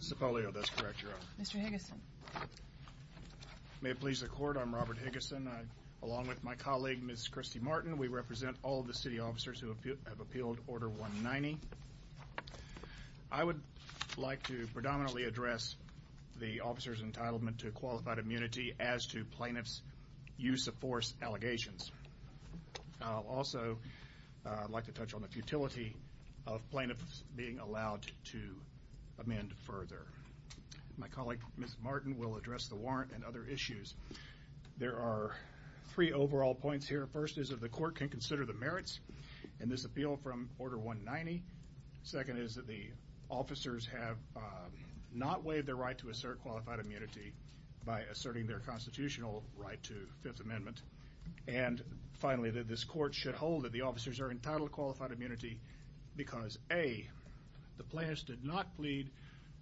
Sepolio, that's correct, Your Honor. Mr. Higgison. May it please the Court, I'm Robert Higgison. Along with my colleague, Ms. Christy Martin, we represent all of the city officers who have appealed Order 190. I would like to predominantly address the officer's entitlement to qualified I would also like to touch on the futility of plaintiffs being allowed to amend further. My colleague, Ms. Martin, will address the warrant and other issues. There are three overall points here. First is that the Court can consider the merits in this appeal from Order 190. Second is that the officers have not waived their right to assert qualified immunity by asserting their constitutional right to Fifth Amendment. And finally, that this Court should hold that the officers are entitled to qualified immunity because A, the plaintiffs did not plead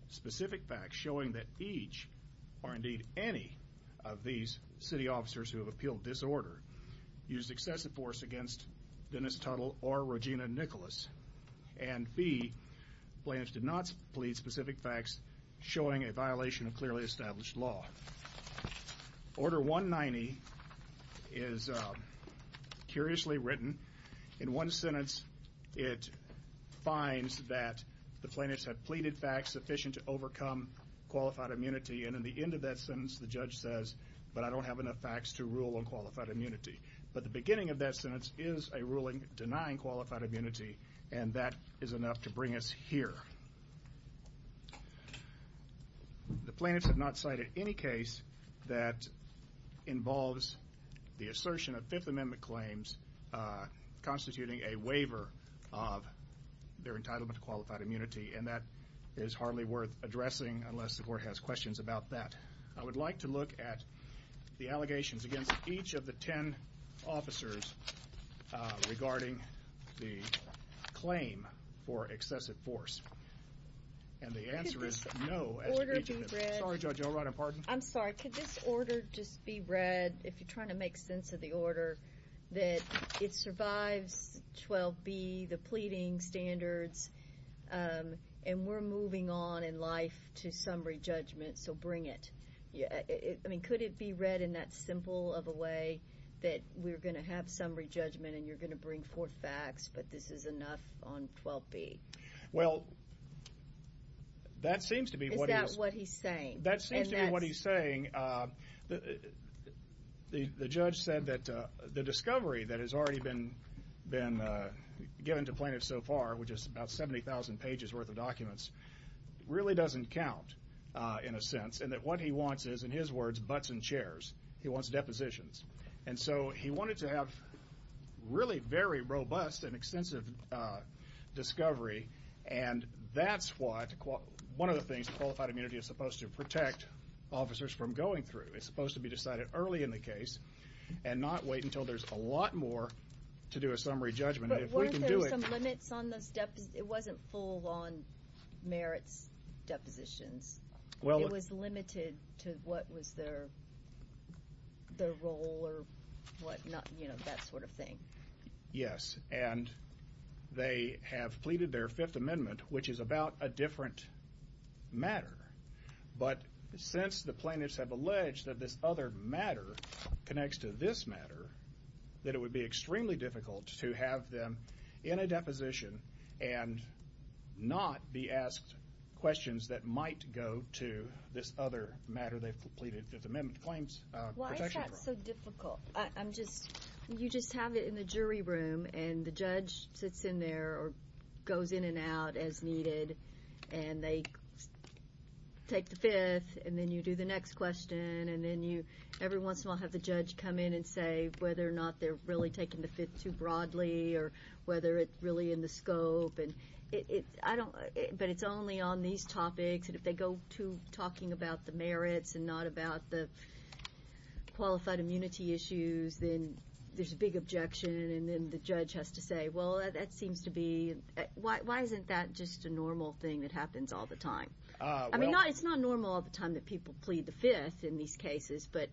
specific facts showing that each, or indeed any, of these city officers who have appealed this order used excessive force against Dennis Tuttle or Regina Nicholas. And B, plaintiffs did not plead specific facts showing a violation of clearly established law. Order 190 is curiously written. In one sentence, it finds that the plaintiffs have pleaded facts sufficient to overcome qualified immunity and at the end of that sentence, the judge says, but I don't have enough facts to rule on qualified immunity. But the beginning of that sentence is a ruling denying qualified immunity and that is enough to bring us here. The plaintiffs have not cited any case that involves the assertion of Fifth Amendment claims constituting a waiver of their entitlement to qualified immunity and that is hardly worth addressing unless the Court has questions about that. I would like to look at the allegations against each of the ten officers regarding the claim for excessive force. And the answer is no. Could this order just be read, if you're trying to make sense of the order, that it survives 12B, the pleading standards, and we're moving on in life to summary judgment, so bring it. I mean, could it be read in that simple of a way that we're going to have summary judgment and you're going to bring forth facts, but this is enough on 12B? Well, that seems to be what he's saying. That seems to be what he's saying. The judge said that the discovery that has already been given to plaintiffs so far, which is about 70,000 pages worth of documents, really doesn't count in a sense and that what he wants is, in his words, butts in chairs. He wants depositions. And so he wanted to have really very robust and extensive discovery and that's what one of the things qualified immunity is supposed to protect officers from going through. It's supposed to be decided early in the case and not wait until there's a lot more to do a summary judgment. But weren't there some limits on those depositions? It wasn't full on merits depositions. It was limited to what was their role or what not, you know, that sort of thing. Yes, and they have pleaded their Fifth Amendment, which is about a different matter, but since the plaintiffs have alleged that this other matter connects to this matter, that it would be in a deposition and not be asked questions that might go to this other matter they've pleaded Fifth Amendment claims. Why is that so difficult? I'm just, you just have it in the jury room and the judge sits in there or goes in and out as needed and they take the Fifth and then you do the next question and then you every once in a while have the whether it's really in the scope and it's, I don't, but it's only on these topics and if they go to talking about the merits and not about the qualified immunity issues, then there's a big objection and then the judge has to say, well, that seems to be, why isn't that just a normal thing that happens all the time? I mean, it's not normal all the time that people plead the Fifth in these cases, but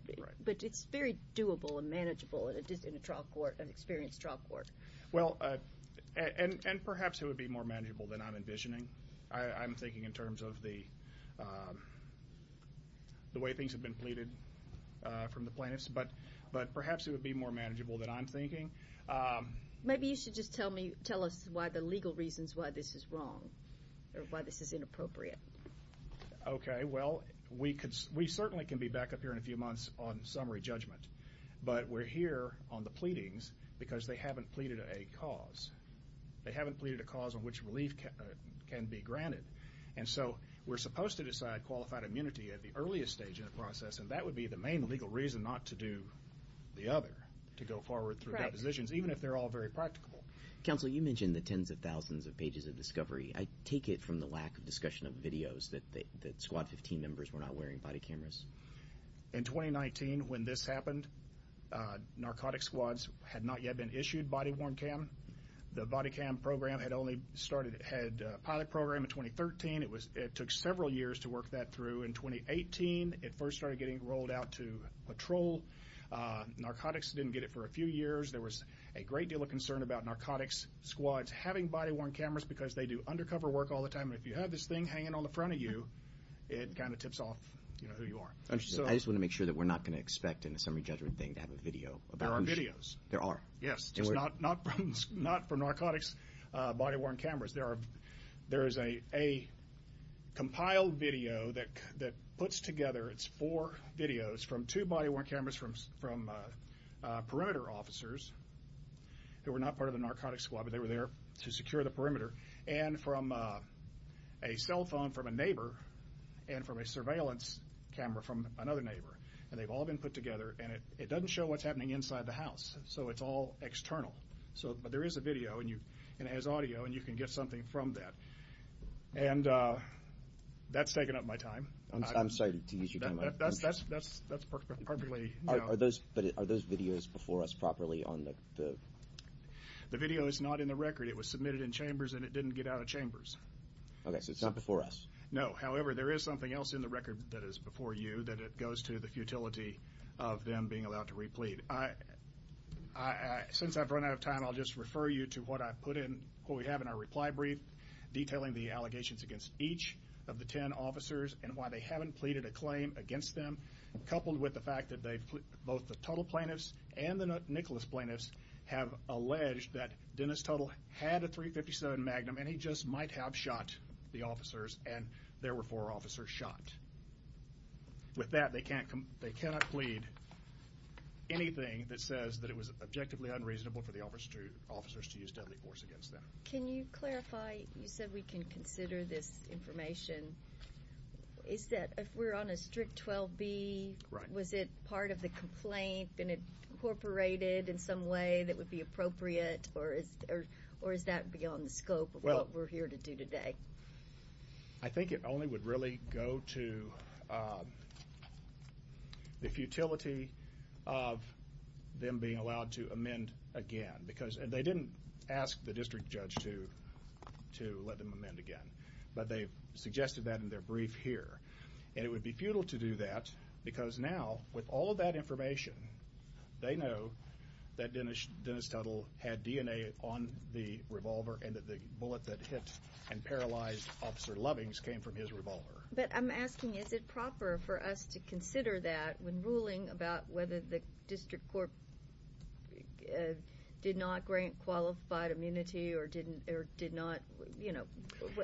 it's very doable and manageable in a trial court, an experienced trial court. Well, and perhaps it would be more manageable than I'm envisioning. I'm thinking in terms of the way things have been pleaded from the plaintiffs, but perhaps it would be more manageable than I'm thinking. Maybe you should just tell me, tell us why the legal reasons why this is wrong or why this is inappropriate. Okay, well, we certainly can be back up here in a few on the pleadings because they haven't pleaded a cause. They haven't pleaded a cause on which relief can be granted and so we're supposed to decide qualified immunity at the earliest stage in the process and that would be the main legal reason not to do the other, to go forward through depositions, even if they're all very practicable. Counsel, you mentioned the tens of thousands of pages of discovery. I take it from the lack of discussion of videos that squad 15 members were not wearing body cameras. In 2019, when this happened, narcotic squads had not yet been issued body-worn cam. The body cam program had only started, had a pilot program in 2013. It took several years to work that through. In 2018, it first started getting rolled out to patrol. Narcotics didn't get it for a few years. There was a great deal of concern about narcotics squads having body-worn cameras because they do undercover work all the time. If you have this thing hanging on the front of you, it kind of tips off who you are. I just want to make sure that we're not going to expect in a summary judgment thing to have a video. There are videos. There are. Yes, just not from narcotics body-worn cameras. There is a compiled video that puts together, it's four videos from two body-worn cameras from perimeter officers who were not part of the narcotics squad, but they were there to secure the perimeter, and from a cell phone from a neighbor, and from a surveillance camera from another neighbor. They've all been put together. It doesn't show what's happening inside the house, so it's all external. There is a video, and it has audio, and you can get something from that. That's taken up my time. I'm sorry to use your time. That's perfectly... Are those videos before us properly on the... The video is not in the record. It was submitted in chambers, and it didn't get out of chambers. Okay, so it's not before us. No, however, there is something else in the record that is before you that it goes to the futility of them being allowed to replete. Since I've run out of time, I'll just refer you to what I put in, what we have in our reply brief, detailing the allegations against each of the 10 officers, and why they haven't pleaded a claim against them, coupled with the both the Tuttle plaintiffs and the Nicholas plaintiffs have alleged that Dennis Tuttle had a .357 Magnum, and he just might have shot the officers, and there were four officers shot. With that, they cannot plead anything that says that it was objectively unreasonable for the officers to use deadly force against them. Can you clarify? You said we can consider this complaint incorporated in some way that would be appropriate, or is that beyond the scope of what we're here to do today? Well, I think it only would really go to the futility of them being allowed to amend again, because they didn't ask the district judge to let them amend again, but they suggested that in their brief here, and it would be futile to do that because now, with all of that information, they know that Dennis Tuttle had DNA on the revolver, and that the bullet that hit and paralyzed Officer Lovings came from his revolver. But I'm asking, is it proper for us to consider that when ruling about whether the district court did not grant qualified immunity or did not, you know,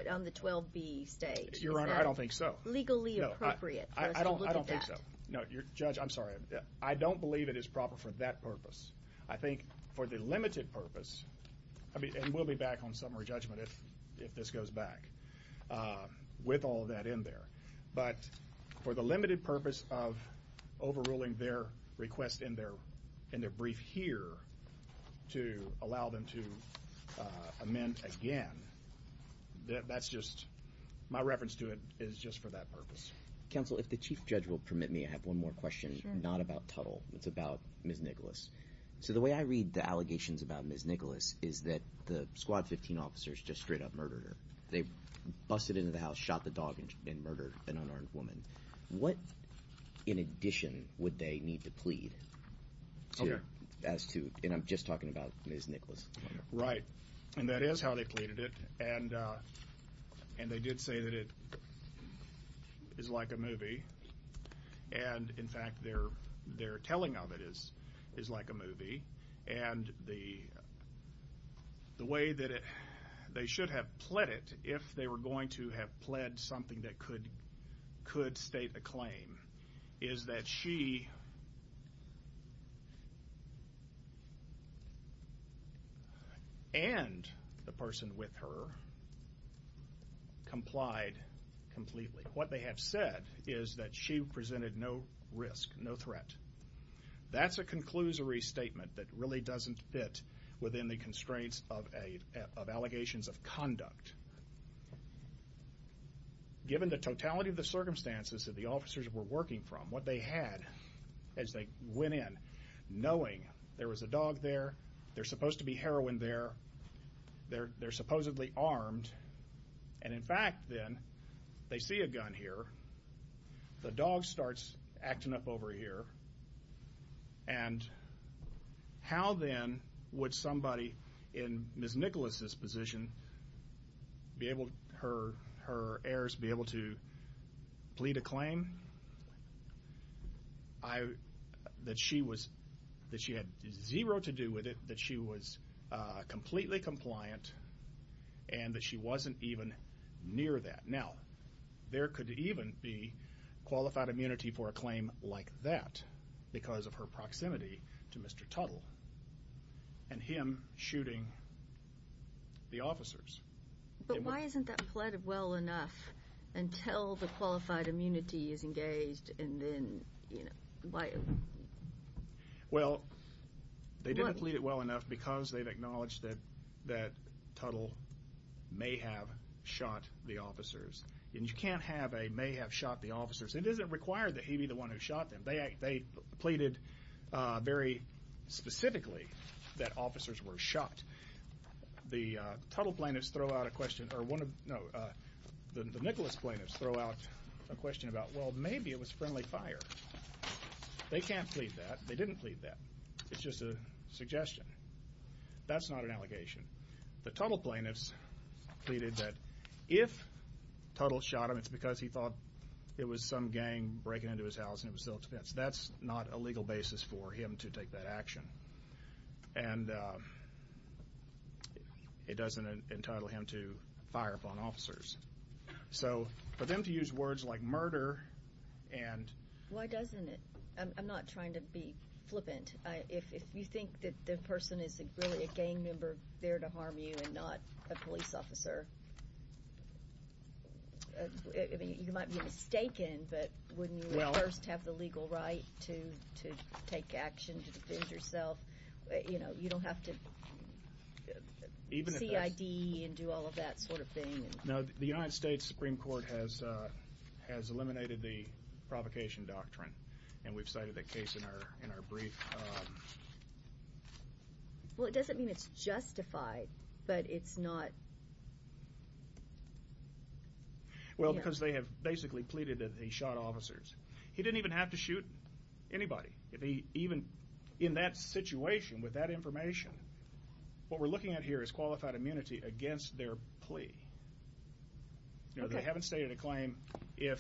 on the 12B stage? Your Honor, I don't think so. Legally appropriate for us to look at that. No, I don't think so. Judge, I'm sorry. I don't believe it is proper for that purpose. I think for the limited purpose, and we'll be back on summary judgment if this goes back with all that in there, but for the limited purpose of overruling their request in their brief here to allow them to amend again, that's just, my reference to it is just for that purpose. Counsel, if the Chief Judge will permit me, I have one more question, not about Tuttle. It's about Ms. Nicholas. So the way I read the allegations about Ms. Nicholas is that the Squad 15 officers just straight up murdered her. They busted into the house, shot the dog, and murdered an unarmed woman. What, in addition, would they need to plead? Okay. As to, and I'm just talking about Ms. Nicholas. Right, and that is how they pleaded it, and they did say that it is like a movie, and in fact, their telling of it is like a movie, and the way that they should have pled it, if they were going to have pled something that could state a claim, is that she and the person with her complied completely. What they have said is that she presented no risk, no threat. That's a conclusory statement that really doesn't fit within the constraints of allegations of conduct. Given the totality of the circumstances that the officers were working from, what they had as they went in, knowing there was a dog there, there's supposed to be heroin there, they're supposedly armed, and in fact then, they see a gun here, the dog starts acting up over here, and how then would somebody in Ms. Nicholas' position, her heirs be able to I, that she was, that she had zero to do with it, that she was completely compliant, and that she wasn't even near that. Now, there could even be qualified immunity for a claim like that, because of her proximity to Mr. Tuttle, and him shooting the officers. But why isn't that pleaded well enough until the qualified immunity is engaged, and then, you know, Well, they didn't plead it well enough because they've acknowledged that Tuttle may have shot the officers, and you can't have a may have shot the officers. It doesn't require that he be the one who shot them. They pleaded very specifically that officers were shot. The Tuttle plaintiffs throw out a question, or one of, no, the Nicholas plaintiffs throw out a question about, well, maybe it was friendly fire. They can't plead that. They didn't plead that. It's just a suggestion. That's not an allegation. The Tuttle plaintiffs pleaded that if Tuttle shot him, it's because he thought it was some gang breaking into his house, and it was self-defense. That's not a legal basis for him to take that action, and it doesn't entitle him to fire upon officers. So, for them to use words like murder, and Why doesn't it? I'm not trying to be flippant. If you think that the person is really a gang member there to harm you, and not a police to take action to defend yourself, you know, you don't have to CID and do all of that sort of thing. Now, the United States Supreme Court has eliminated the provocation doctrine, and we've cited that case in our brief. Well, it doesn't mean it's justified, but it's not. Well, because they have basically pleaded that he shot officers. He didn't even have to shoot anybody. Even in that situation, with that information, what we're looking at here is qualified immunity against their plea. You know, they haven't stated a claim if...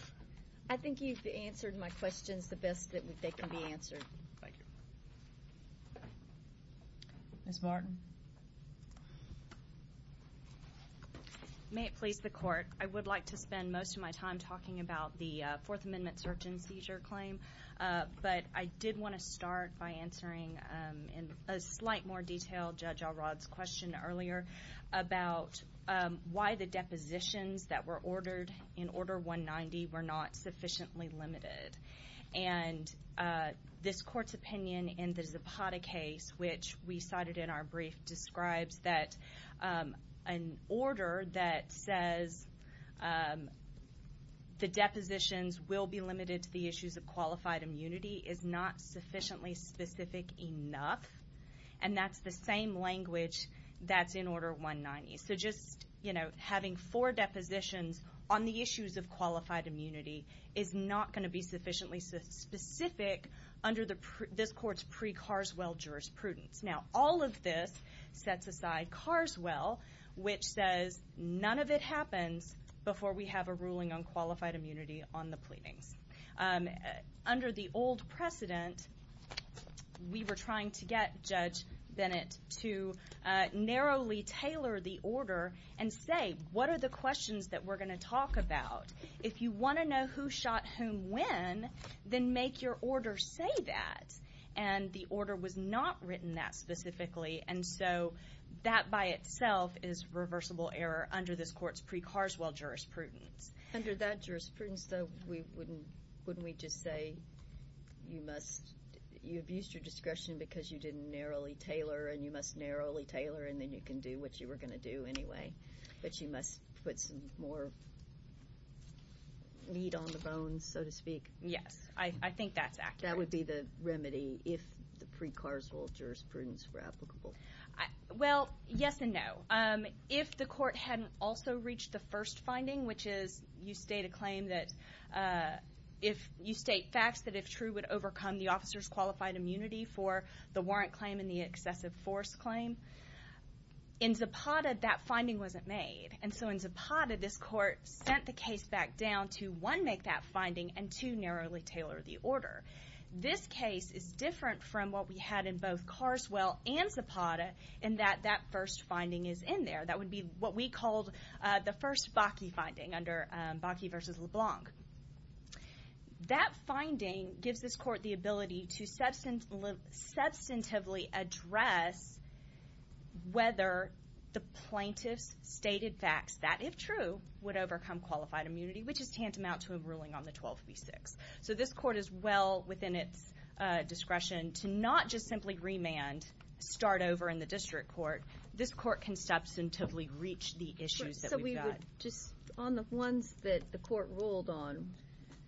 I think you've answered my questions the best that they can be answered. Thank you. Ms. Martin? May it please the court. I would like to spend most of my time talking about the Fourth Amendment search and seizure claim, but I did want to start by answering in a slight more detail Judge Alrod's question earlier about why the depositions that were ordered in Order 190 were not sufficiently limited. And this court's opinion in the Zapata case, which we cited in our brief, describes that an order that says the depositions will be limited to the issues of qualified immunity is not sufficiently specific enough, and that's the same language that's in Order 190. So just, you know, having four depositions on the issues of qualified immunity is not going to be sufficiently specific under this court's pre-Carswell jurisprudence. Now, all of this sets aside Carswell, which says none of it happens before we have a ruling on qualified immunity on the pleadings. Under the old precedent, we were trying to get Judge Bennett to narrowly tailor the order and say, what are the questions that we're going to talk about? If you want to know who shot whom when, then make your order say that. And the order was not written that specifically, and so that by itself is reversible error under this court's pre-Carswell jurisprudence. Under that jurisprudence, though, wouldn't we just say you abused your discretion because you didn't narrowly tailor, and you must narrowly tailor, and then you can do what you were going to do anyway, but you must put some more need on the bones, so to speak? Yes, I think that's the remedy if the pre-Carswell jurisprudence were applicable. Well, yes and no. If the court hadn't also reached the first finding, which is you state a claim that if you state facts that if true would overcome the officer's qualified immunity for the warrant claim and the excessive force claim, in Zapata, that finding wasn't made. And so in Zapata, this court sent the case back to one, make that finding, and two, narrowly tailor the order. This case is different from what we had in both Carswell and Zapata in that that first finding is in there. That would be what we called the first Bakke finding under Bakke v. LeBlanc. That finding gives this court the ability to substantively address whether the plaintiff's stated facts that if true would overcome qualified immunity, which is tantamount to a ruling on the 12 v. 6. So this court is well within its discretion to not just simply remand, start over in the district court. This court can substantively reach the issues that we've got. So we would just on the ones that the court ruled on,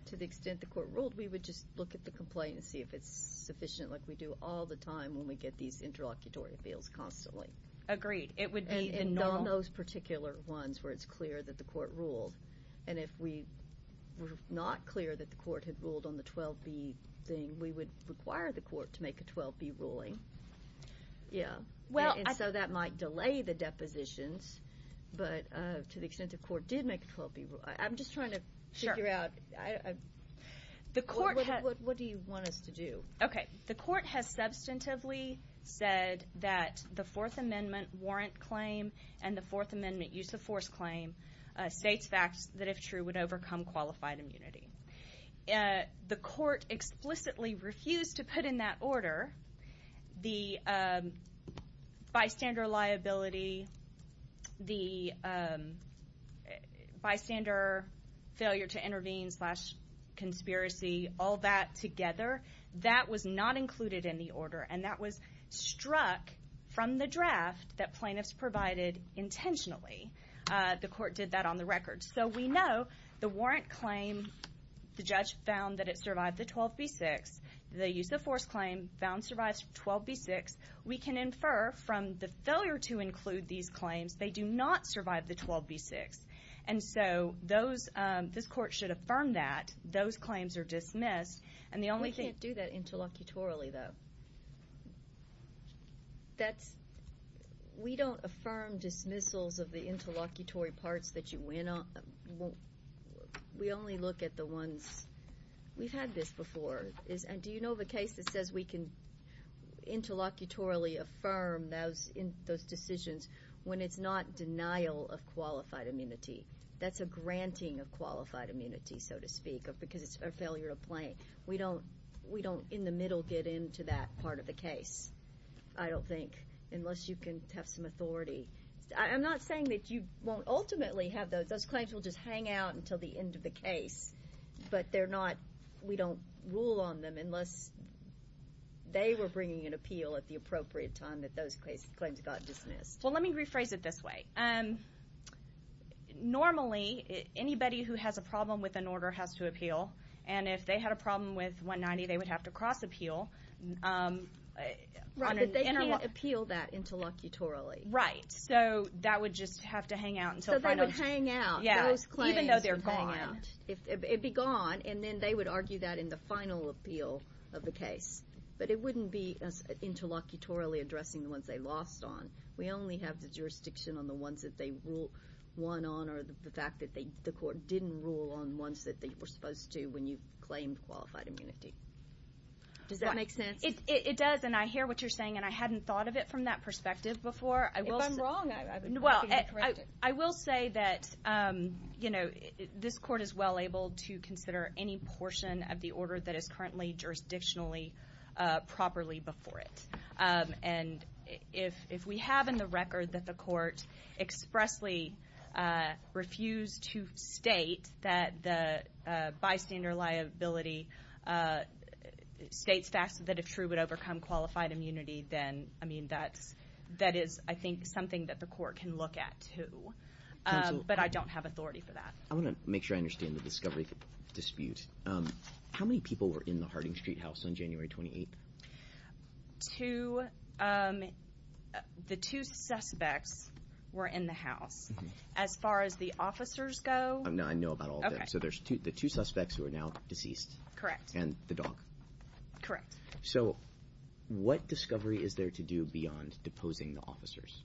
to the extent the court ruled, we would just look at the complaint and see if it's sufficient like we do all the time when we get these interlocutory appeals constantly. Agreed. It would be in on those particular ones where it's clear that the court ruled. And if we were not clear that the court had ruled on the 12 v. thing, we would require the court to make a 12 v. ruling. Yeah. And so that might delay the depositions, but to the extent the court did make a 12 v. ruling, I'm just trying to figure out, what do you want us to do? Okay. The court has substantively said that the 4th Amendment warrant claim and the 4th Amendment use of force claim states facts that if true, would overcome qualified immunity. The court explicitly refused to put in that order the bystander liability, the bystander failure to intervene slash conspiracy, all that together. That was not included in the order and that was struck from the draft that plaintiffs provided intentionally. The court did that on the record. So we know the warrant claim, the judge found that it survived the 12 v. 6. The use of force claim found survives 12 v. 6. We can infer from the failure to include these claims, they do not survive the 12 v. 6. And so those, this court should affirm that those claims are dismissed and the only thing. We can't do that interlocutorally though. That's, we don't affirm dismissals of the interlocutory parts that you went on. We only look at the ones, we've had this before, and do you know of a case that says we can interlocutorally affirm those decisions when it's not denial of qualified immunity? That's a granting of qualified immunity, so to speak, or because it's a failure to plaint. We don't, we don't in the middle get into that part of the case, I don't think, unless you can have some authority. I'm not saying that you won't ultimately have those, those claims will just hang out until the end of the case, but they're not, we don't rule on them unless they were bringing an appeal at the appropriate time that those claims got dismissed. Well, let me rephrase it this way. Normally, anybody who has a problem with an order has to appeal, and if they had a problem with 190, they would have to cross appeal. Right, but they can't appeal that interlocutorally. Right, so that would just have to hang out until final. So they would hang out. Yeah, even though they're gone. It'd be gone, and then they would argue that in the final appeal of the case, but it wouldn't be as interlocutorally addressing the ones they lost on. We only have the jurisdiction on the ones that they rule one on or the fact that they, the court didn't rule on ones that they were supposed to when you claimed qualified immunity. Does that make sense? It does, and I hear what you're saying, and I hadn't thought of it from that perspective before. If I'm wrong, I've been working to correct it. Well, I will say that, you know, this court is well able to consider any portion of the order that is currently jurisdictionally properly before it, and if we have in the record that the court expressly refused to state that the bystander liability states facts that if true would overcome qualified immunity, then, I mean, that's, that is, I think, something that the court can look at too, but I don't have authority for that. I want to make sure I understand the discovery dispute. How many people were in the Harding Street house on January 28th? Two. The two suspects were in the house. As far as the officers go. I know about all of them. So there's two, the two suspects who are now deceased. Correct. And the dog. Correct. So what discovery is there to do beyond deposing the officers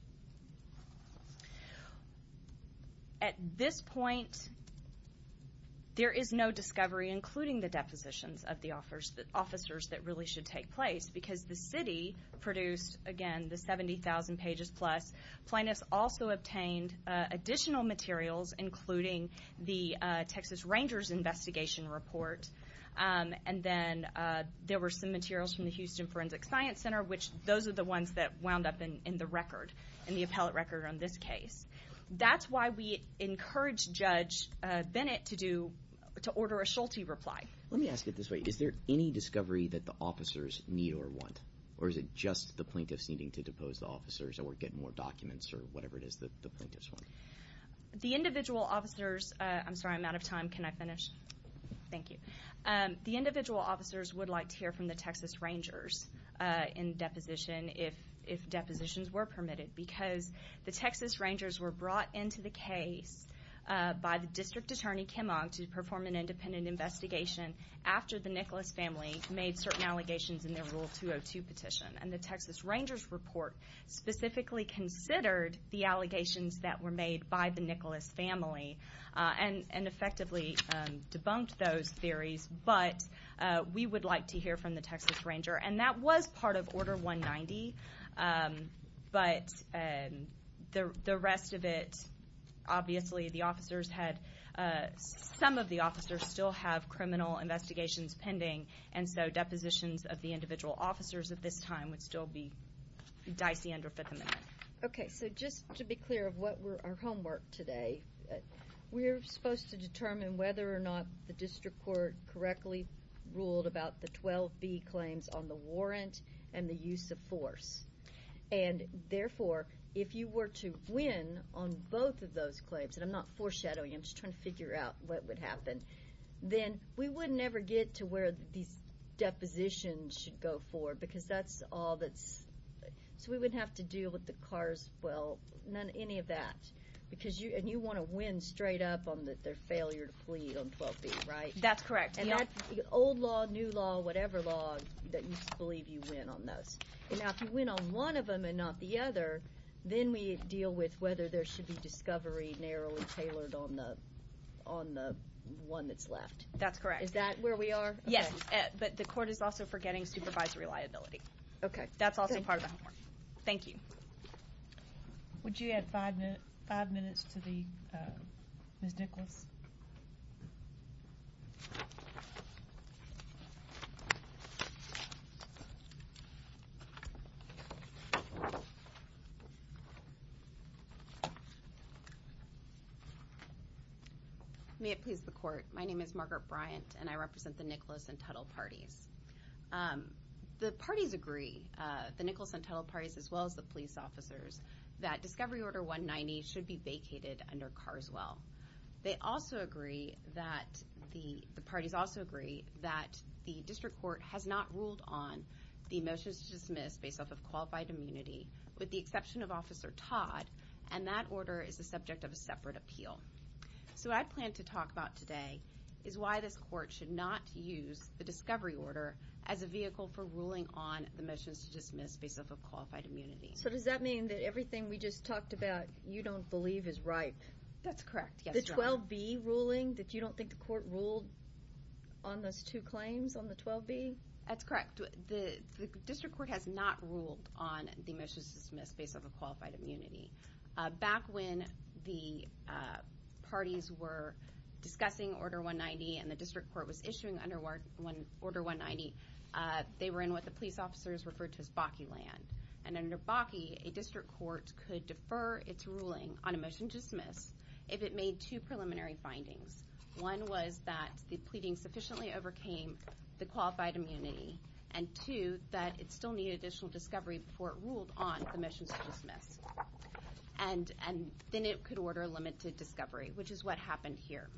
that really should take place? Because the city produced, again, the 70,000 pages plus. Plaintiffs also obtained additional materials, including the Texas Rangers investigation report, and then there were some materials from the Houston Forensic Science Center, which those are the ones that wound up in the record, in the appellate record on this case. That's why we the officers need or want, or is it just the plaintiffs needing to depose the officers that we're getting more documents or whatever it is that the plaintiffs want? The individual officers, I'm sorry, I'm out of time. Can I finish? Thank you. The individual officers would like to hear from the Texas Rangers in deposition if, if depositions were permitted, because the Texas Rangers were brought into the case by the District Attorney Kimmock to perform an independent investigation after the Nicholas family made certain allegations in their Rule 202 petition, and the Texas Rangers report specifically considered the allegations that were made by the Nicholas family and effectively debunked those theories. But we would like to hear from the Texas Ranger, and that was part of Order 190, but the rest of it, obviously, the officers had, some of the officers still have criminal investigations pending, and so depositions of the individual officers at this time would still be dicey under Fifth Amendment. Okay, so just to be clear of what were our homework today, we're supposed to determine whether or not the District Court correctly ruled about the 12b claims on the warrant and the use of force, and therefore, if you were to win on both of those claims, and I'm not foreshadowing, I'm just trying to figure out what would happen, then we wouldn't ever get to where these depositions should go forward, because that's all that's, so we wouldn't have to deal with the cars, well, none, any of that, because you, and you want to win straight up on their failure to plead on 12b, right? That's correct. And that's the old law, new law, whatever law that you believe you win on those. Now, if you win on one of them and not the other, then we deal with whether there should be discovery narrowly tailored on the, on the one that's left. That's correct. Is that where we are? Yes, but the court is also for getting supervisory liability. Okay, that's also part of Thank you. Would you add five minutes, five minutes to the, Ms. Nicholas? May it please the court, my name is Margaret Bryant, and I represent the Nicholas and Tuttle parties as well as the police officers, that discovery order 190 should be vacated under Carswell. They also agree that the parties also agree that the district court has not ruled on the motions to dismiss based off of qualified immunity, with the exception of Officer Todd, and that order is the subject of a separate appeal. So I plan to talk about today is why this court should not use the discovery order as a vehicle for ruling on the motions to dismiss based off of qualified immunity. So does that mean that everything we just talked about you don't believe is right? That's correct. The 12B ruling that you don't think the court ruled on those two claims on the 12B? That's correct. The district court has not ruled on the motions to dismiss based off of qualified immunity. Back when the parties were discussing order 190 and the district court was issuing under order 190, they were in what the police officers referred to as BACI land, and under BACI, a district court could defer its ruling on a motion to dismiss if it made two preliminary findings. One was that the pleading sufficiently overcame the qualified immunity, and two, that it still needed additional discovery before it ruled on the motions to dismiss, and then it could order limited discovery, which is what happened here.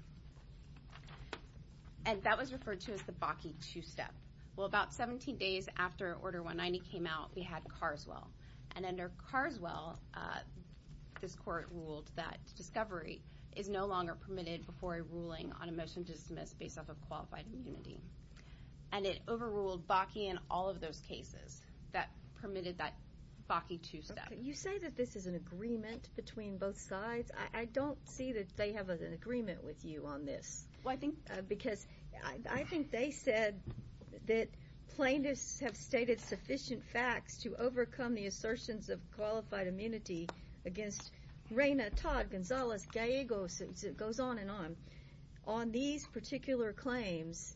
And that was referred to as the BACI two-step. Well, about 17 days after order 190 came out, we had Carswell, and under Carswell, this court ruled that discovery is no longer permitted before a ruling on a motion to dismiss based off of qualified immunity, and it overruled BACI in all of those cases that permitted that BACI two-step. You say that this is an agreement between both sides. I don't see that they have an agreement with you on this, because I think they said that plaintiffs have stated sufficient facts to overcome the assertions of qualified immunity against Reyna, Todd, Gonzalez, Gallegos, it goes on and on. On these particular claims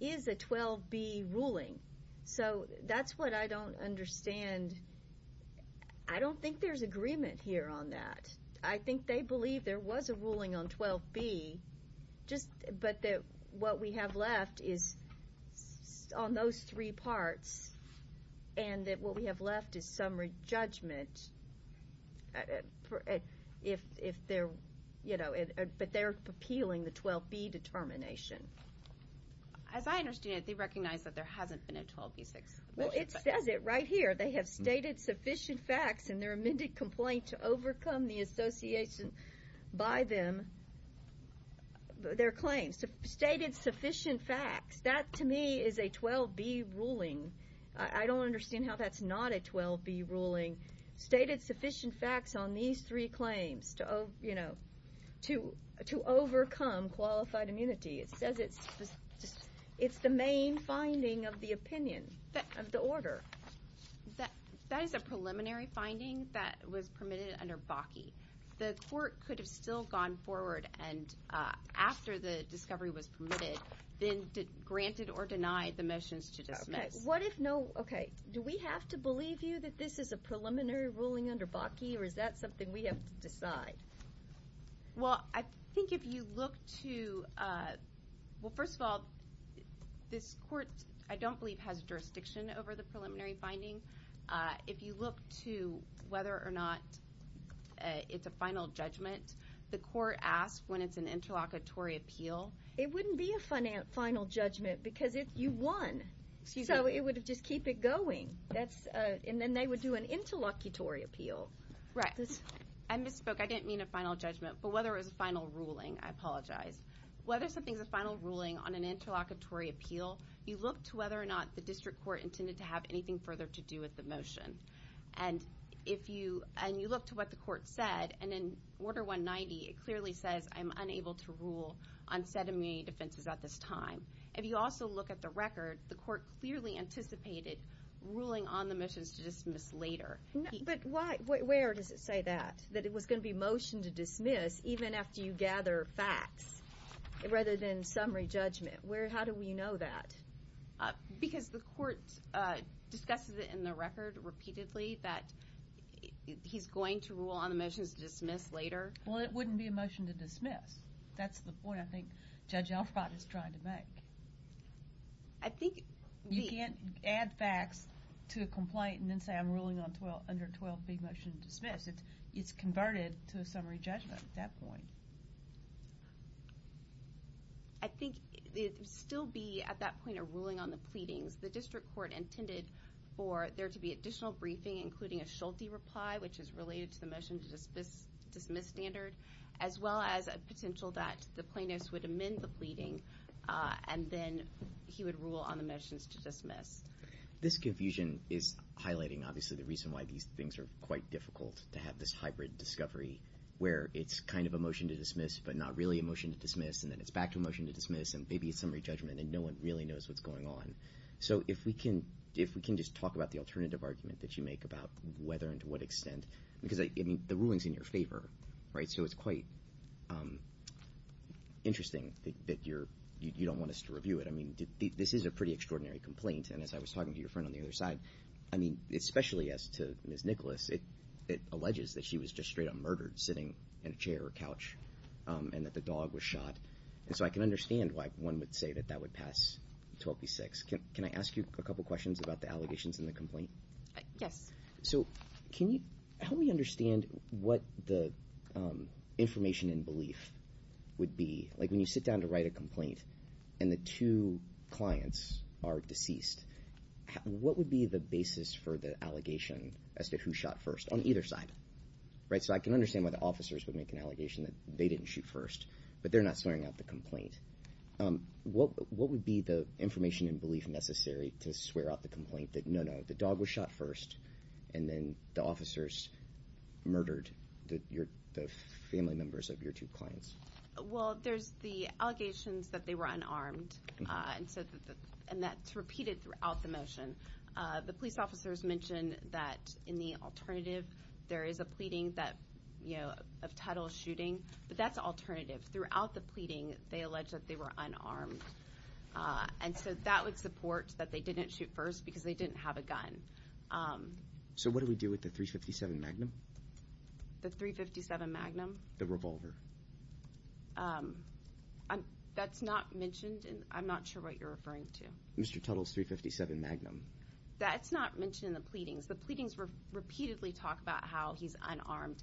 is a 12B ruling, so that's what I don't understand. I don't think there's agreement here on that. I think they believe there was a ruling on 12B, but what we have left is on those three parts, and that what we have left is summary judgment, but they're appealing the 12B determination. As I understand it, they recognize that there hasn't been a 12B6. Well, it says it right here. They have stated sufficient facts in their amended complaint to overcome the association by them, their claims, stated sufficient facts. That, to me, is a 12B ruling. I don't understand how that's not a 12B ruling. Stated sufficient facts on these three claims to overcome qualified immunity. It says it's the main finding of the opinion, of the order. That is a preliminary finding that was permitted under Bakke. The court could have still gone forward and after the that this is a preliminary ruling under Bakke, or is that something we have to decide? Well, I think if you look to, well, first of all, this court, I don't believe, has jurisdiction over the preliminary finding. If you look to whether or not it's a final judgment, the court asks when it's an interlocutory appeal. It wouldn't be a final judgment because if you won, so it would just keep it going. That's, and then they would do an interlocutory appeal. Right. I misspoke. I didn't mean a final judgment, but whether it was a final ruling, I apologize. Whether something's a final ruling on an interlocutory appeal, you look to whether or not the district court intended to have anything further to do with the motion. And if you, and you look to what the court said, and in Order 190, it clearly says I'm unable to rule on said immunity defenses at this time. If you also look at the record, the court clearly anticipated ruling on the motions to dismiss later. But why, where does it say that, that it was going to be motion to dismiss even after you gather facts rather than summary judgment? Where, how do we know that? Because the court discusses it in the record repeatedly that he's going to rule on the motions to dismiss later. Well, it wouldn't be a motion to dismiss. That's the point I think Judge Alfred is trying to make. I think. You can't add facts to a complaint and then say I'm ruling on 12, under 12B motion to dismiss. It's converted to a summary judgment at that point. I think it would still be at that point a ruling on the pleadings. The district court intended for there to be additional briefing, including a Schulte reply, which is related to the dismiss standard, as well as a potential that the plaintiffs would amend the pleading and then he would rule on the motions to dismiss. This confusion is highlighting, obviously, the reason why these things are quite difficult to have this hybrid discovery, where it's kind of a motion to dismiss, but not really a motion to dismiss, and then it's back to a motion to dismiss, and maybe a summary judgment, and no one really knows what's going on. So if we can, if we can just talk about the alternative argument that you make about whether and to what extent, because I mean, the ruling's in your favor, right? So it's quite interesting that you don't want us to review it. I mean, this is a pretty extraordinary complaint, and as I was talking to your friend on the other side, I mean, especially as to Ms. Nicholas, it alleges that she was just straight-up murdered sitting in a chair or couch and that the dog was shot. And so I can understand why one would say that that would pass 12B-6. Can I ask you a couple questions about the allegations in the complaint? Yes. So can you help me understand what the information and belief would be, like when you sit down to write a complaint and the two clients are deceased, what would be the basis for the allegation as to who shot first on either side, right? So I can understand why the officers would make an allegation that they didn't shoot first, but they're not swearing out the complaint. What would be the information and belief necessary to swear out the complaint that, no, no, the dog was shot first, and then the officers murdered the family members of your two clients? Well, there's the allegations that they were unarmed, and that's repeated throughout the motion. The police officers mentioned that in the alternative, there is a pleading of title of shooting, but that's alternative. Throughout the pleading, they alleged that they were unarmed, and so that would support that they didn't shoot first because they didn't have a gun. So what do we do with the .357 Magnum? The .357 Magnum? The revolver. That's not mentioned, and I'm not sure what you're referring to. Mr. Tuttle's .357 Magnum. That's not mentioned in the pleadings. The pleadings repeatedly talk about how he's unarmed,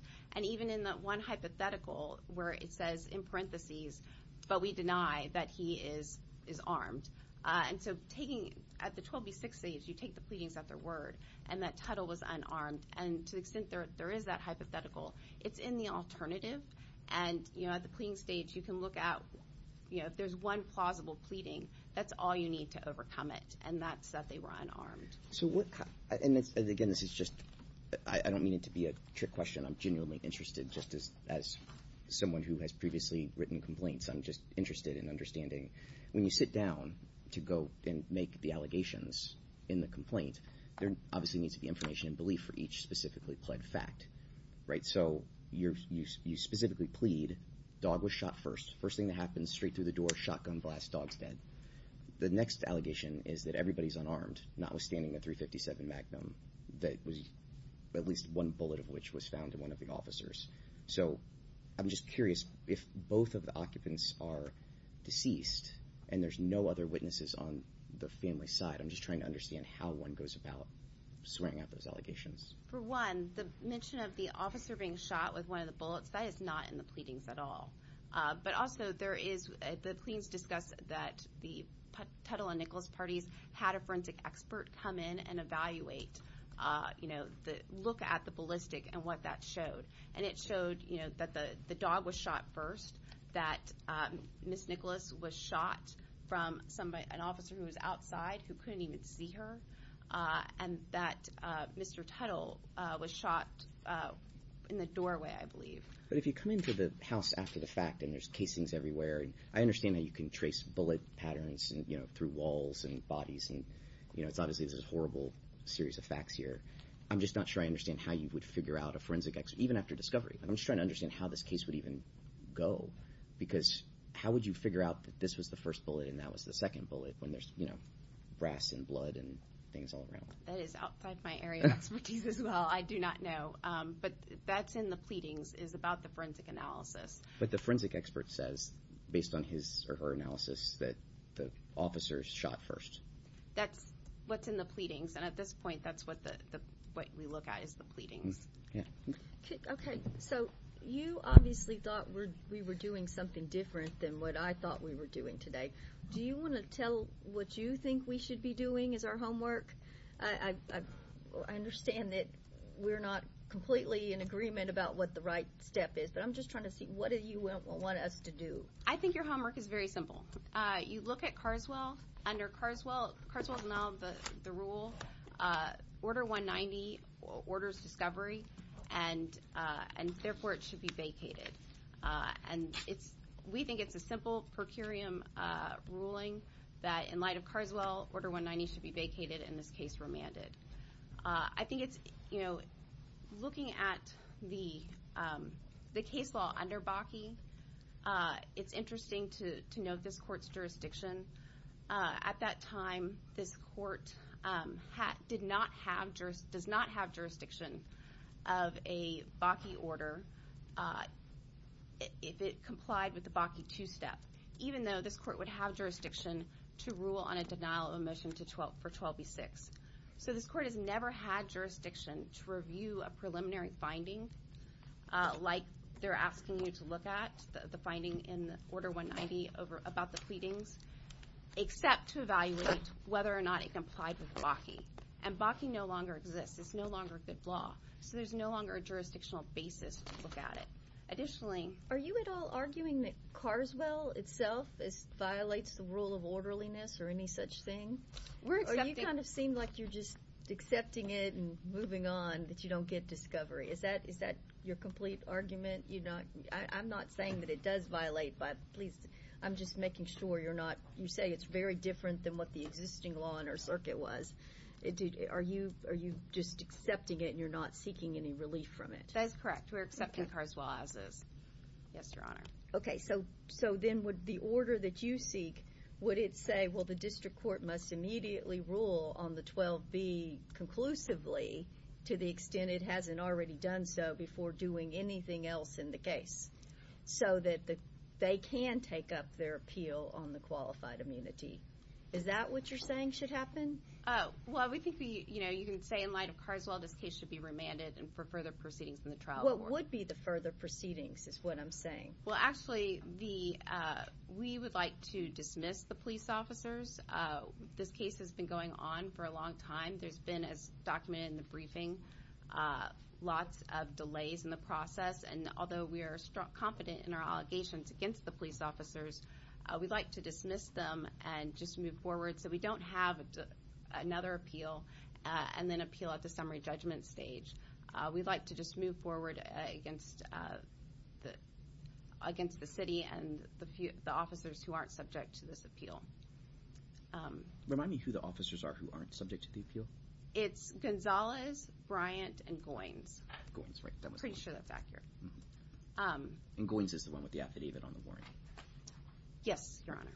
but we deny that he is armed. And so at the 12B6 stage, you take the pleadings at their word and that Tuttle was unarmed, and to the extent there is that hypothetical, it's in the alternative, and at the pleading stage, you can look at if there's one plausible pleading, that's all you need to overcome it, and that's that they were unarmed. And again, I don't mean it to be a trick question. I'm genuinely interested, just as someone who has previously written complaints, I'm just interested in understanding when you sit down to go and make the allegations in the complaint, there obviously needs to be information and belief for each specifically pled fact, right? So you specifically plead, dog was shot first. First thing that happens, straight through the door, shotgun blast, dog's dead. The next allegation is that everybody's unarmed, not withstanding the .357 Magnum that was at least one bullet of which was found in one of the officers. So I'm just curious if both of the occupants are deceased and there's no other witnesses on the family's side. I'm just trying to understand how one goes about swearing out those allegations. For one, the mention of the officer being shot with one of the bullets, that is not in the pleadings at all. But also there is, the pleadings discuss that the Tuttle and Nichols parties had a forensic expert come in and evaluate the look at the ballistic and what that showed. And it showed that the dog was shot first, that Ms. Nichols was shot from an officer who was outside who couldn't even see her, and that Mr. Tuttle was shot in the doorway, I believe. But if you come into the house after the fact and there's casings everywhere, I understand that you can trace bullet patterns through walls and bodies. And obviously this is a horrible series of facts here. I'm just not sure I understand how you would figure out a forensic expert, even after discovery. I'm just trying to understand how this case would even go. Because how would you figure out that this was the first bullet and that was the second bullet when there's brass and blood and things all around? That is outside my area of expertise as well. I do not know. But that's in the pleadings, is about the forensic analysis. But the forensic expert says, based on his or her analysis, that the officers shot first. That's what's in the pleadings. And at this point, that's what we look at, is the pleadings. Okay. So you obviously thought we were doing something different than what I thought we were doing today. Do you want to tell what you think we should be doing as our homework? I understand that we're not completely in agreement about what the right step is, but I'm just trying to see what you want us to do. I think your homework is very simple. You look at Carswell. Under Carswell, Carswell is now the rule. Order 190 orders discovery and therefore it should be vacated. And we think it's a simple per curiam ruling that in light of Carswell, order 190 should be vacated and this case remanded. I think it's looking at the case under Bakke. It's interesting to note this court's jurisdiction. At that time, this court did not have jurisdiction of a Bakke order if it complied with the Bakke 2 step, even though this court would have jurisdiction to rule on a denial of omission for 12B6. So this court has never had jurisdiction to review a preliminary finding like they're asking you to look at, the finding in order 190 about the pleadings, except to evaluate whether or not it complied with Bakke. And Bakke no longer exists. It's no longer a good law. So there's no longer a jurisdictional basis to look at it. Additionally- Are you at all arguing that Carswell itself violates the rule of orderliness or any such thing? Or you kind of seem like you're just accepting it and moving on that you don't get discovery. Is that your complete argument? I'm not saying that it does violate, but please, I'm just making sure you're not, you say it's very different than what the existing law in our circuit was. Are you just accepting it and you're not seeking any relief from it? That's correct. We're accepting Carswell as is. Yes, Your Honor. Okay. So then would the order that you seek, would it say, well, the district court must immediately rule on the 12B conclusively to the extent it hasn't already done so before doing anything else in the case so that they can take up their appeal on the qualified immunity? Is that what you're saying should happen? Well, we think we, you know, you can say in light of Carswell, this case should be remanded and for further proceedings in the trial. What would be the further proceedings is what I'm saying. Well, actually, we would like to dismiss the police officers. This case has been going on for a long time. There's been as documented in the briefing, lots of delays in the process. And although we are strong, confident in our allegations against the police officers, we'd like to dismiss them and just move forward. So we don't have another appeal and then appeal at the summary judgment stage. We'd like to just move forward against the, against the city and the officers who aren't subject to this appeal. Remind me who the officers are who aren't subject to the appeal? It's Gonzalez, Bryant, and Goins. Goins, right. Pretty sure that's accurate. And Goins is the one with the affidavit on the warrant. Yes, Your Honor.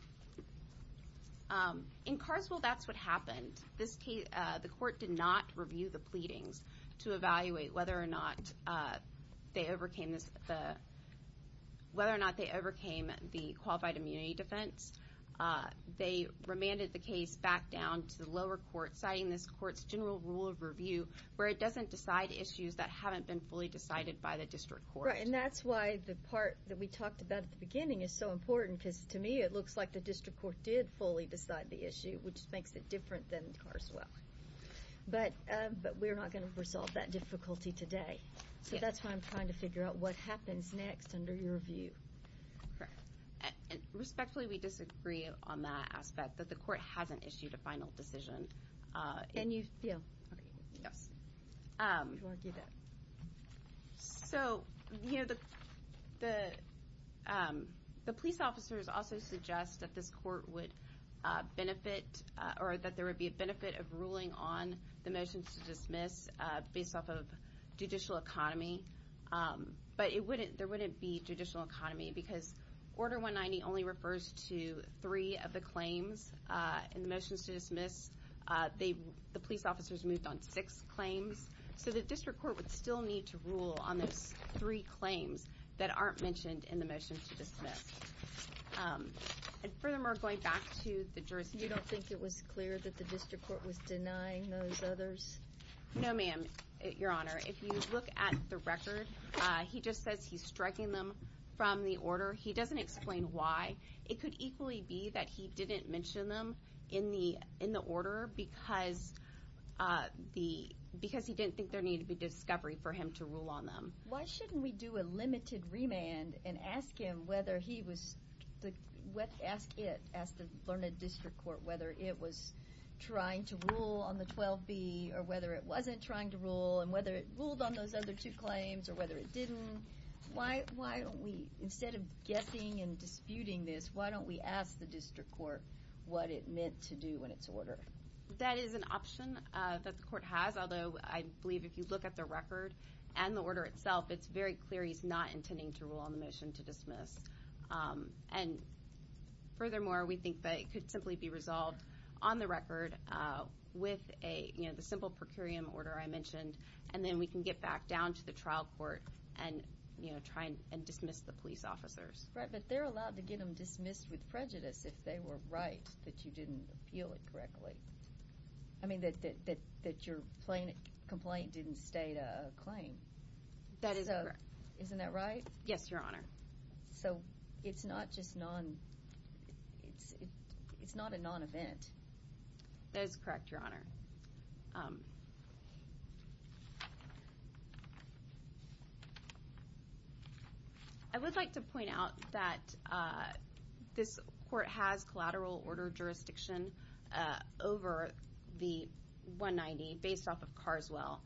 In Carswell, that's what happened. This case, the court did not review the pleadings to evaluate whether or not they overcame this, the, whether or not they overcame the qualified immunity defense. They remanded the case back down to the lower court, citing this court's general rule of review, where it doesn't decide issues that haven't been fully decided by the district court. Right. And that's why the part that we talked about at the beginning is so important, because to me, it looks like the district court did fully decide the issue, which makes it today. So that's why I'm trying to figure out what happens next under your view. Correct. And respectfully, we disagree on that aspect, that the court hasn't issued a final decision. And you, yeah. Yes. So, you know, the, the, the police officers also suggest that this court would benefit, or that there would be a benefit of ruling on the motions to dismiss based off of judicial economy. But it wouldn't, there wouldn't be judicial economy, because Order 190 only refers to three of the claims in the motions to dismiss. They, the police officers moved on six claims. So the district court would still need to rule on those three claims that aren't mentioned in the motions to dismiss. And furthermore, going back to the jurisdiction. You don't think it was clear that the district court was denying those others? No, ma'am, Your Honor. If you look at the record, he just says he's striking them from the order. He doesn't explain why. It could equally be that he didn't mention them in the, in the order because the, because he didn't think there needed to be discovery for him to rule on them. Why shouldn't we do a limited remand and ask him whether he was, the, what, ask it, ask the Learned District Court whether it was trying to rule on the 12B, or whether it wasn't trying to rule, and whether it ruled on those other two claims, or whether it didn't? Why, why don't we, instead of guessing and disputing this, why don't we ask the district court what it meant to do in its order? That is an option that the court has, although I believe if you look at the record and the order itself, it's very clear he's not intending to rule on the motion to dismiss. And furthermore, we think that it could simply be resolved on the record with a, you know, the simple per curiam order I mentioned, and then we can get back down to the trial court and, you know, try and dismiss the police officers. Right, but they're allowed to get them dismissed with prejudice if they were right, that you didn't appeal it correctly. I mean, that, that, that your complaint didn't state a claim. That is correct. Isn't that right? Yes, Your Honor. So it's not just non, it's, it's not a non-event. That is correct, Your Honor. I would like to point out that this court has collateral order jurisdiction over the 190 based off of Carswell,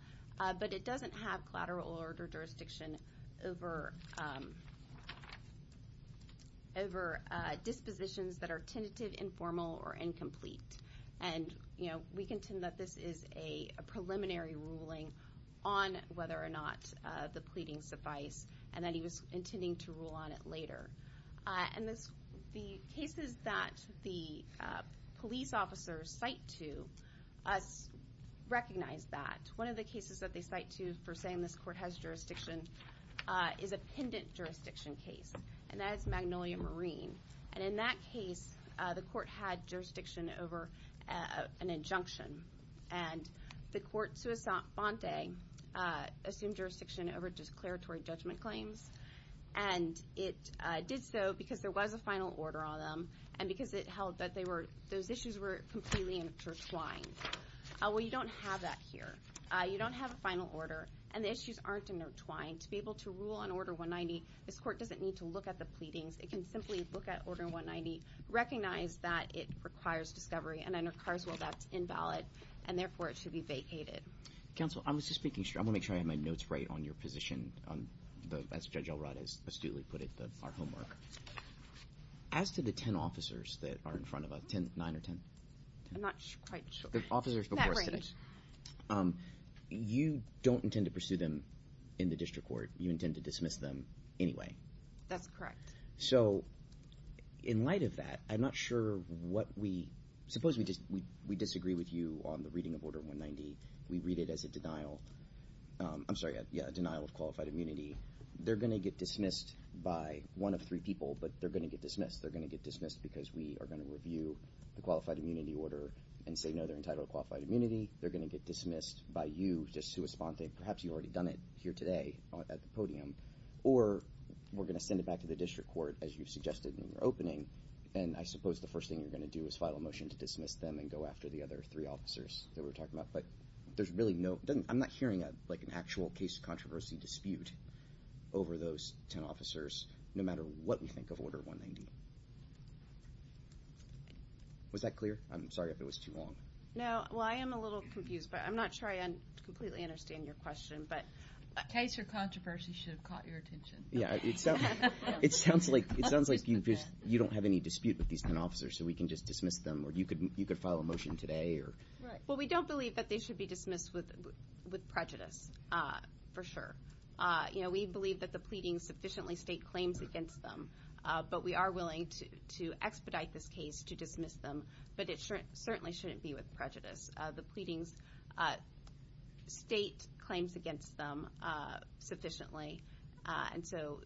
but it doesn't have collateral order jurisdiction over, over dispositions that are tentative, informal, or incomplete. And, you know, we contend that this is a preliminary ruling on whether or not the pleadings suffice, and that he was officers cite to us, recognize that one of the cases that they cite to for saying this court has jurisdiction is a pendant jurisdiction case, and that's Magnolia Marine. And in that case, the court had jurisdiction over an injunction, and the court Suisante assumed jurisdiction over declaratory judgment claims. And it did so because there was a final order on them, and because it held that they were, those issues were completely intertwined. Well, you don't have that here. You don't have a final order, and the issues aren't intertwined. To be able to rule on order 190, this court doesn't need to look at the pleadings. It can simply look at order 190, recognize that it requires discovery, and under Carswell, that's invalid, and therefore it should be vacated. Counsel, I was just making sure, I'm gonna make sure I have my notes right on your position on the, as Judge Elrod astutely put it, our homework. As to the 10 officers that are in front of us, 10, 9 or 10? I'm not quite sure. The officers before us. In that range. You don't intend to pursue them in the district court. You intend to dismiss them anyway. That's correct. So in light of that, I'm not sure what we, suppose we just, we disagree with you on the reading of order 190. We read it as a denial, I'm sorry, yeah, a denial of qualified immunity. They're going to get dismissed by one of three people, but they're going to get dismissed. They're going to get dismissed because we are going to review the qualified immunity order and say, no, they're entitled to qualified immunity. They're going to get dismissed by you just to respond that perhaps you've already done it here today at the podium, or we're going to send it back to the district court, as you've suggested in your opening. And I suppose the first thing you're going to do is file a motion to dismiss them and go after the other three officers that we're talking about. But there's really no, I'm not hearing a, like an actual case of controversy dispute over those 10 officers, no matter what we think of order 190. Was that clear? I'm sorry if it was too long. No, well, I am a little confused, but I'm not sure I completely understand your question, but. Case or controversy should have caught your attention. Yeah, it sounds like, it sounds like you just, you don't have any dispute with these 10 officers, so we can just dismiss them, or you could, you could file a motion today, or. Well, we don't believe that they should be dismissed with prejudice, for sure. You know, we believe that the pleading sufficiently state claims against them, but we are willing to expedite this case to dismiss them, but it certainly shouldn't be with prejudice. The pleadings state claims against them sufficiently, and so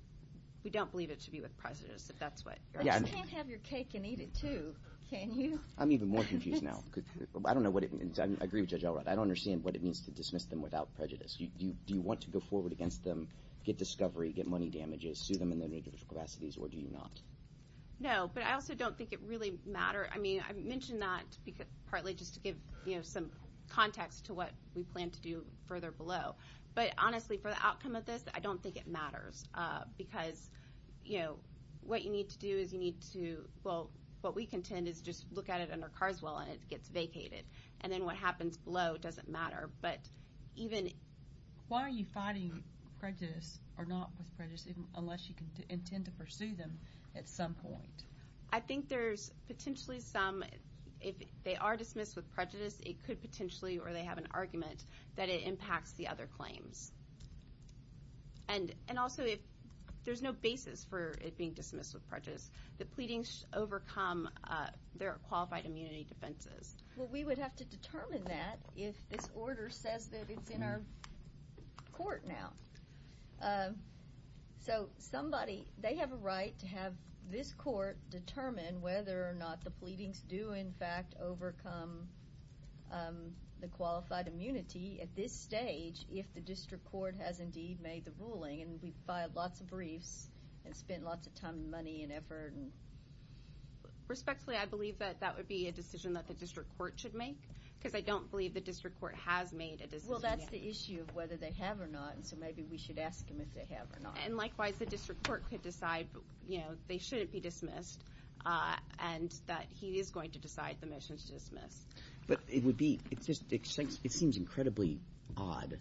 we don't believe it should be with prejudice, if that's what you're asking. But you can't have your cake and eat it too, can you? I'm even more confused now. I don't know what it means. I agree with Judge Elrod. I don't understand what it means to dismiss them without prejudice. Do you want to go forward against them, get discovery, get money damages, sue them in their negative capacities, or do you not? No, but I also don't think it really matters. I mean, I mentioned that partly just to give, you know, some context to what we plan to do further below, but honestly, for the outcome of this, I don't think it matters, because, you know, what you need to do is you need to, well, what we contend is just look at it under Carswell, and it gets vacated, and then what happens below doesn't matter, but even... Why are you fighting prejudice or not with prejudice, unless you intend to pursue them at some point? I think there's potentially some, if they are dismissed with prejudice, it could potentially, or they have an argument, that it impacts the other claims. And also, if there's no basis for it being dismissed with prejudice, the pleadings overcome their qualified immunity defenses. Well, we would have to determine that if this order says that it's in our court now. So somebody, they have a right to have this court determine whether or not the pleadings do, in fact, overcome the qualified immunity at this stage, if the district court has indeed made the ruling, and we've filed lots of briefs and spent lots of time and money and effort and... Respectfully, I believe that that would be a decision that the district court should make, because I don't believe the district court has made a decision yet. Well, that's the issue of whether they have or not, and so maybe we should ask them if they have or not. And likewise, the district court could decide, you know, they shouldn't be dismissed, and that he is going to decide the motions to dismiss. But it would be, it seems incredibly odd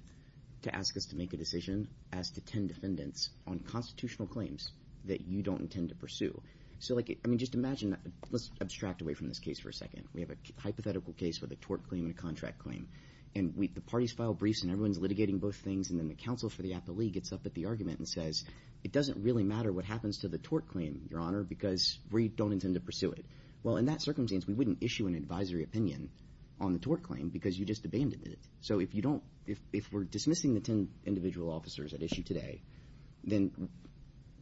to ask us to make a decision as to 10 defendants on constitutional claims that you don't intend to pursue. So, I mean, just imagine, let's abstract away from this case for a second. We have a hypothetical case with a tort claim and a contract claim, and the parties file briefs and everyone's litigating both things, and then the counsel for the appellee gets up at the argument and says, it doesn't really matter what happens to the tort claim, Your Honor, because we don't intend to pursue it. Well, in that circumstance, we wouldn't issue an advisory opinion on the tort claim because you just abandoned it. So if you don't, if we're dismissing the 10 individual officers at issue today, then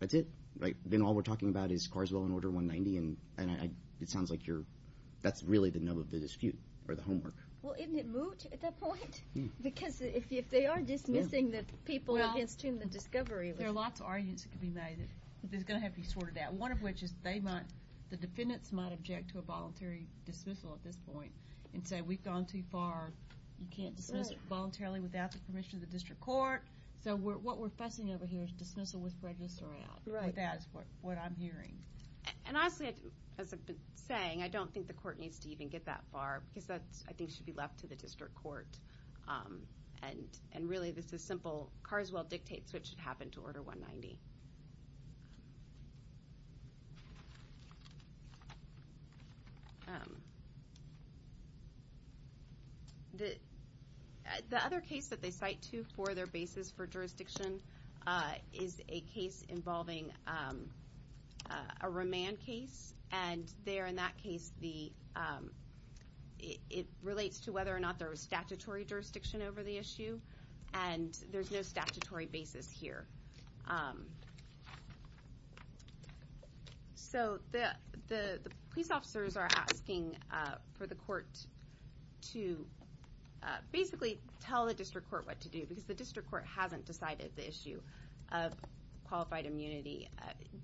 that's it, right? Then all we're talking about is Carswell and Order 190, and it sounds like you're, that's really the nub of the dispute or the homework. Well, isn't it moot at that point? Because if they are dismissing the people against whom the discovery was. There are lots of arguments that could be made, that there's going to have to be sorted out, one of which is they might, the defendants might object to a voluntary dismissal at this point and say, we've gone too far, you can't dismiss it voluntarily without the permission of the district court. So what we're fussing over here is dismissal with prejudice around. Right. That's what I'm hearing. And honestly, as I've been saying, I don't think the court needs to even get that far because that's, I think, should be left to the district court. And really, this is simple. Carswell dictates what should happen to Order 190. The other case that they cite to for their basis for jurisdiction is a case involving a remand case. And there, in that case, the, it relates to whether or not there was statutory jurisdiction over the issue. And there's no statutory basis here. So the police officers are asking for the court to basically tell the district court what to do, because the district court hasn't decided the issue of qualified immunity.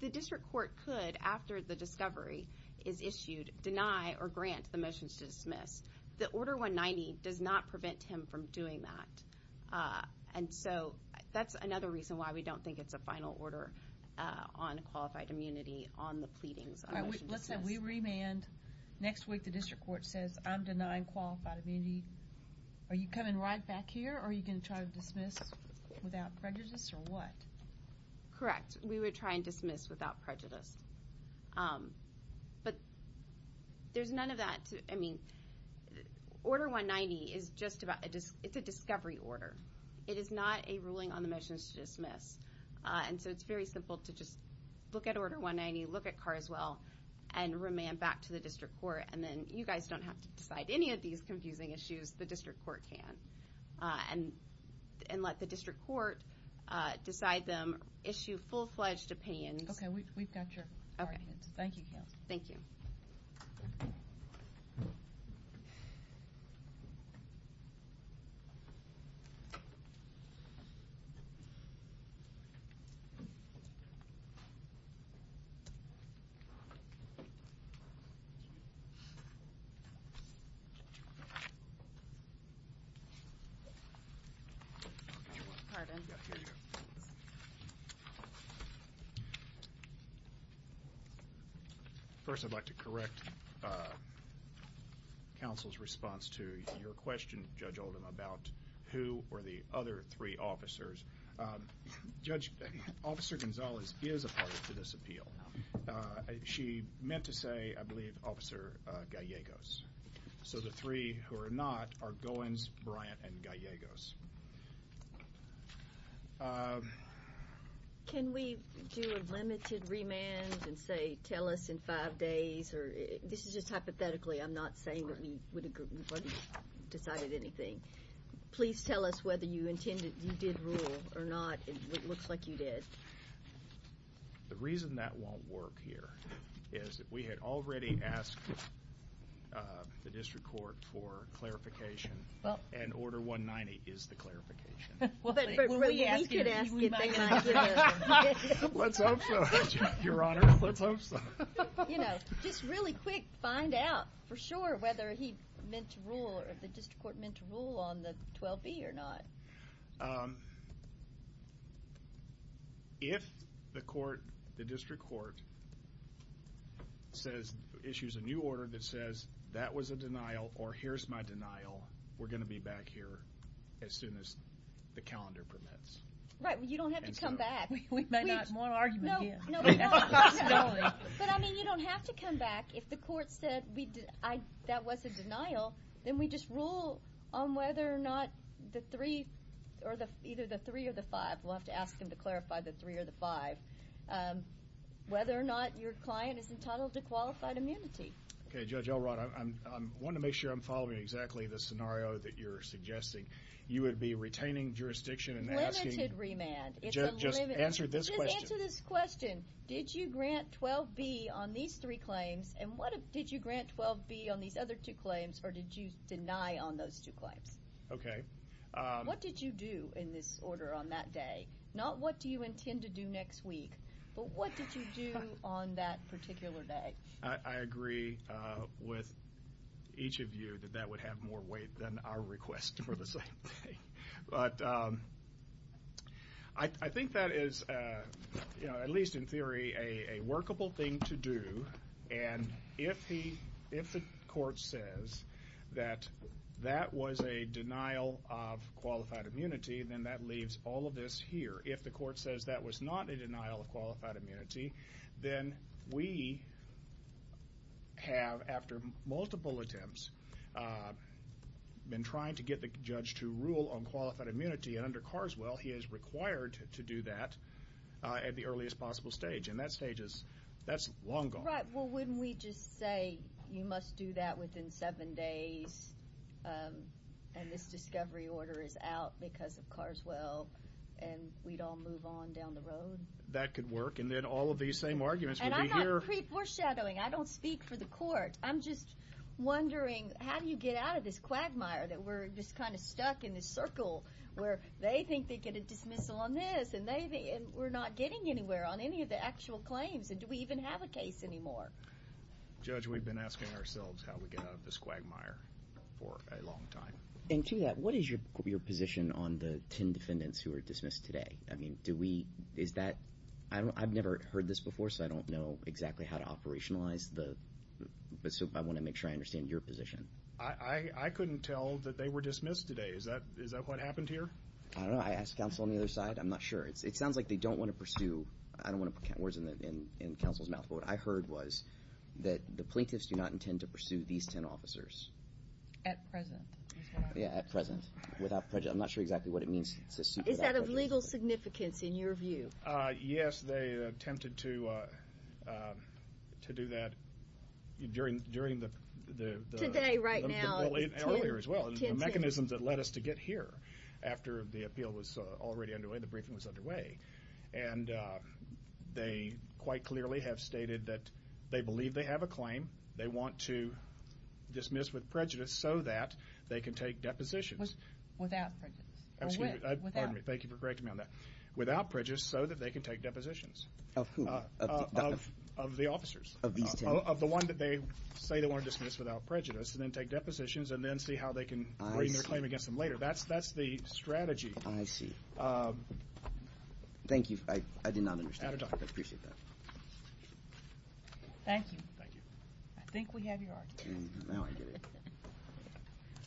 The district court could, after the discovery is issued, deny or grant the motions to dismiss. The Order 190 does not prevent him from doing that. And so that's another reason why we don't think it's a final order on qualified immunity on the pleadings. All right, let's say we remand. Next week, the district court says, I'm denying qualified immunity. Are you coming right back here? Are you going to try to dismiss without prejudice or what? Correct. We would try and dismiss without prejudice. But there's none of that. I mean, Order 190 is just about, it's a discovery order. It is not a ruling on the motions to dismiss. And so it's very simple to just look at Order 190, look at Carswell, and remand back to the district court. And then you guys don't have to decide any of these confusing issues. The district court can. And let the district court decide them. Issue full-fledged opinions. Okay, we've got your arguments. Thank you, counsel. Thank you. First, I'd like to correct counsel's response to your question, Judge Oldham, about who were the other three officers. Officer Gonzalez is a part of this appeal. She meant to say, I believe, Officer Gallegos. So the three who are not are Goins, Bryant, and Gallegos. Can we do a limited remand and say, tell us in five days, or this is just hypothetically, I'm not saying that we wouldn't have decided anything. Please tell us whether you intended, you did rule or not. It looks like you did. The reason that won't work here is that we had already asked the district court for clarification. Well. And order 190 is the clarification. But we could ask it. We might not get it. Let's hope so, your honor. Let's hope so. You know, just really quick, find out for sure whether he meant to rule or the district court meant to rule on the 12B or not. If the court, the district court, says, issues a new order that says, that was a denial or here's my denial, we're going to be back here as soon as the calendar permits. Right. You don't have to come back. We may not. More argument here. But I mean, you don't have to come back. If the court said that was a denial, then we just rule on whether or not the three, or either the three or the five. We'll have to ask them to clarify the three or the five. Whether or not your client is entitled to qualified immunity. Okay, Judge Elrod, I'm wanting to make sure I'm following exactly the scenario that you're suggesting. You would be retaining jurisdiction and asking. Limited remand. It's unlimited. Answer this question. Just answer this question. Did you grant 12B on these three claims? And what did you grant 12B on these other two claims? Or did you deny on those two claims? Okay. What did you do in this order on that day? Not what do you intend to do next week? But what did you do on that particular day? I agree with each of you that that would have more weight than our request for the same thing. But I think that is, at least in theory, a workable thing to do. And if the court says that that was a denial of qualified immunity, then that leaves all of this here. If the court says that was not a denial of qualified immunity, then we have, after multiple attempts, been trying to get the judge to rule on qualified immunity. And under Carswell, he is required to do that at the earliest possible stage. And that stage is, that's long gone. Right. Well, wouldn't we just say you must do that within seven days, and this discovery order is out because of Carswell. And we'd all move on down the road. That could work. And then all of these same arguments would be here. And I'm not pre-foreshadowing. I don't speak for the court. I'm just wondering, how do you get out of this quagmire that we're just kind of stuck in this circle where they think they get a dismissal on this, and we're not getting anywhere on any of the actual claims? And do we even have a case anymore? Judge, we've been asking ourselves how we get out of this quagmire for a long time. And to that, what is your position on the 10 defendants who were dismissed today? I mean, do we, is that, I've never heard this before, so I don't know exactly how to operationalize the, but so I want to make sure I understand your position. I couldn't tell that they were dismissed today. Is that what happened here? I don't know. I asked counsel on the other side. I'm not sure. It sounds like they don't want to pursue, I don't want to put words in counsel's mouth, but what I heard was that the plaintiffs do not intend to pursue these 10 officers. At present. Yeah, at present. Without prejudice. I'm not sure exactly what it means to sue without prejudice. Is that of legal significance in your view? Yes, they attempted to do that during the- Today, right now. Earlier as well. The mechanisms that led us to get here after the appeal was already underway, the briefing was underway. And they quite clearly have stated that they believe they have a claim. They want to dismiss with prejudice so that they can take depositions. Without prejudice. I'm sorry, pardon me. Thank you for correcting me on that. Without prejudice so that they can take depositions. Of who? Of the officers. Of these 10? Of the one that they say they want to dismiss without prejudice and then take depositions and then see how they can bring their claim against them later. That's the strategy. I see. Thank you. I did not understand. At a time. I appreciate that. Thank you. Thank you. I think we have your architect.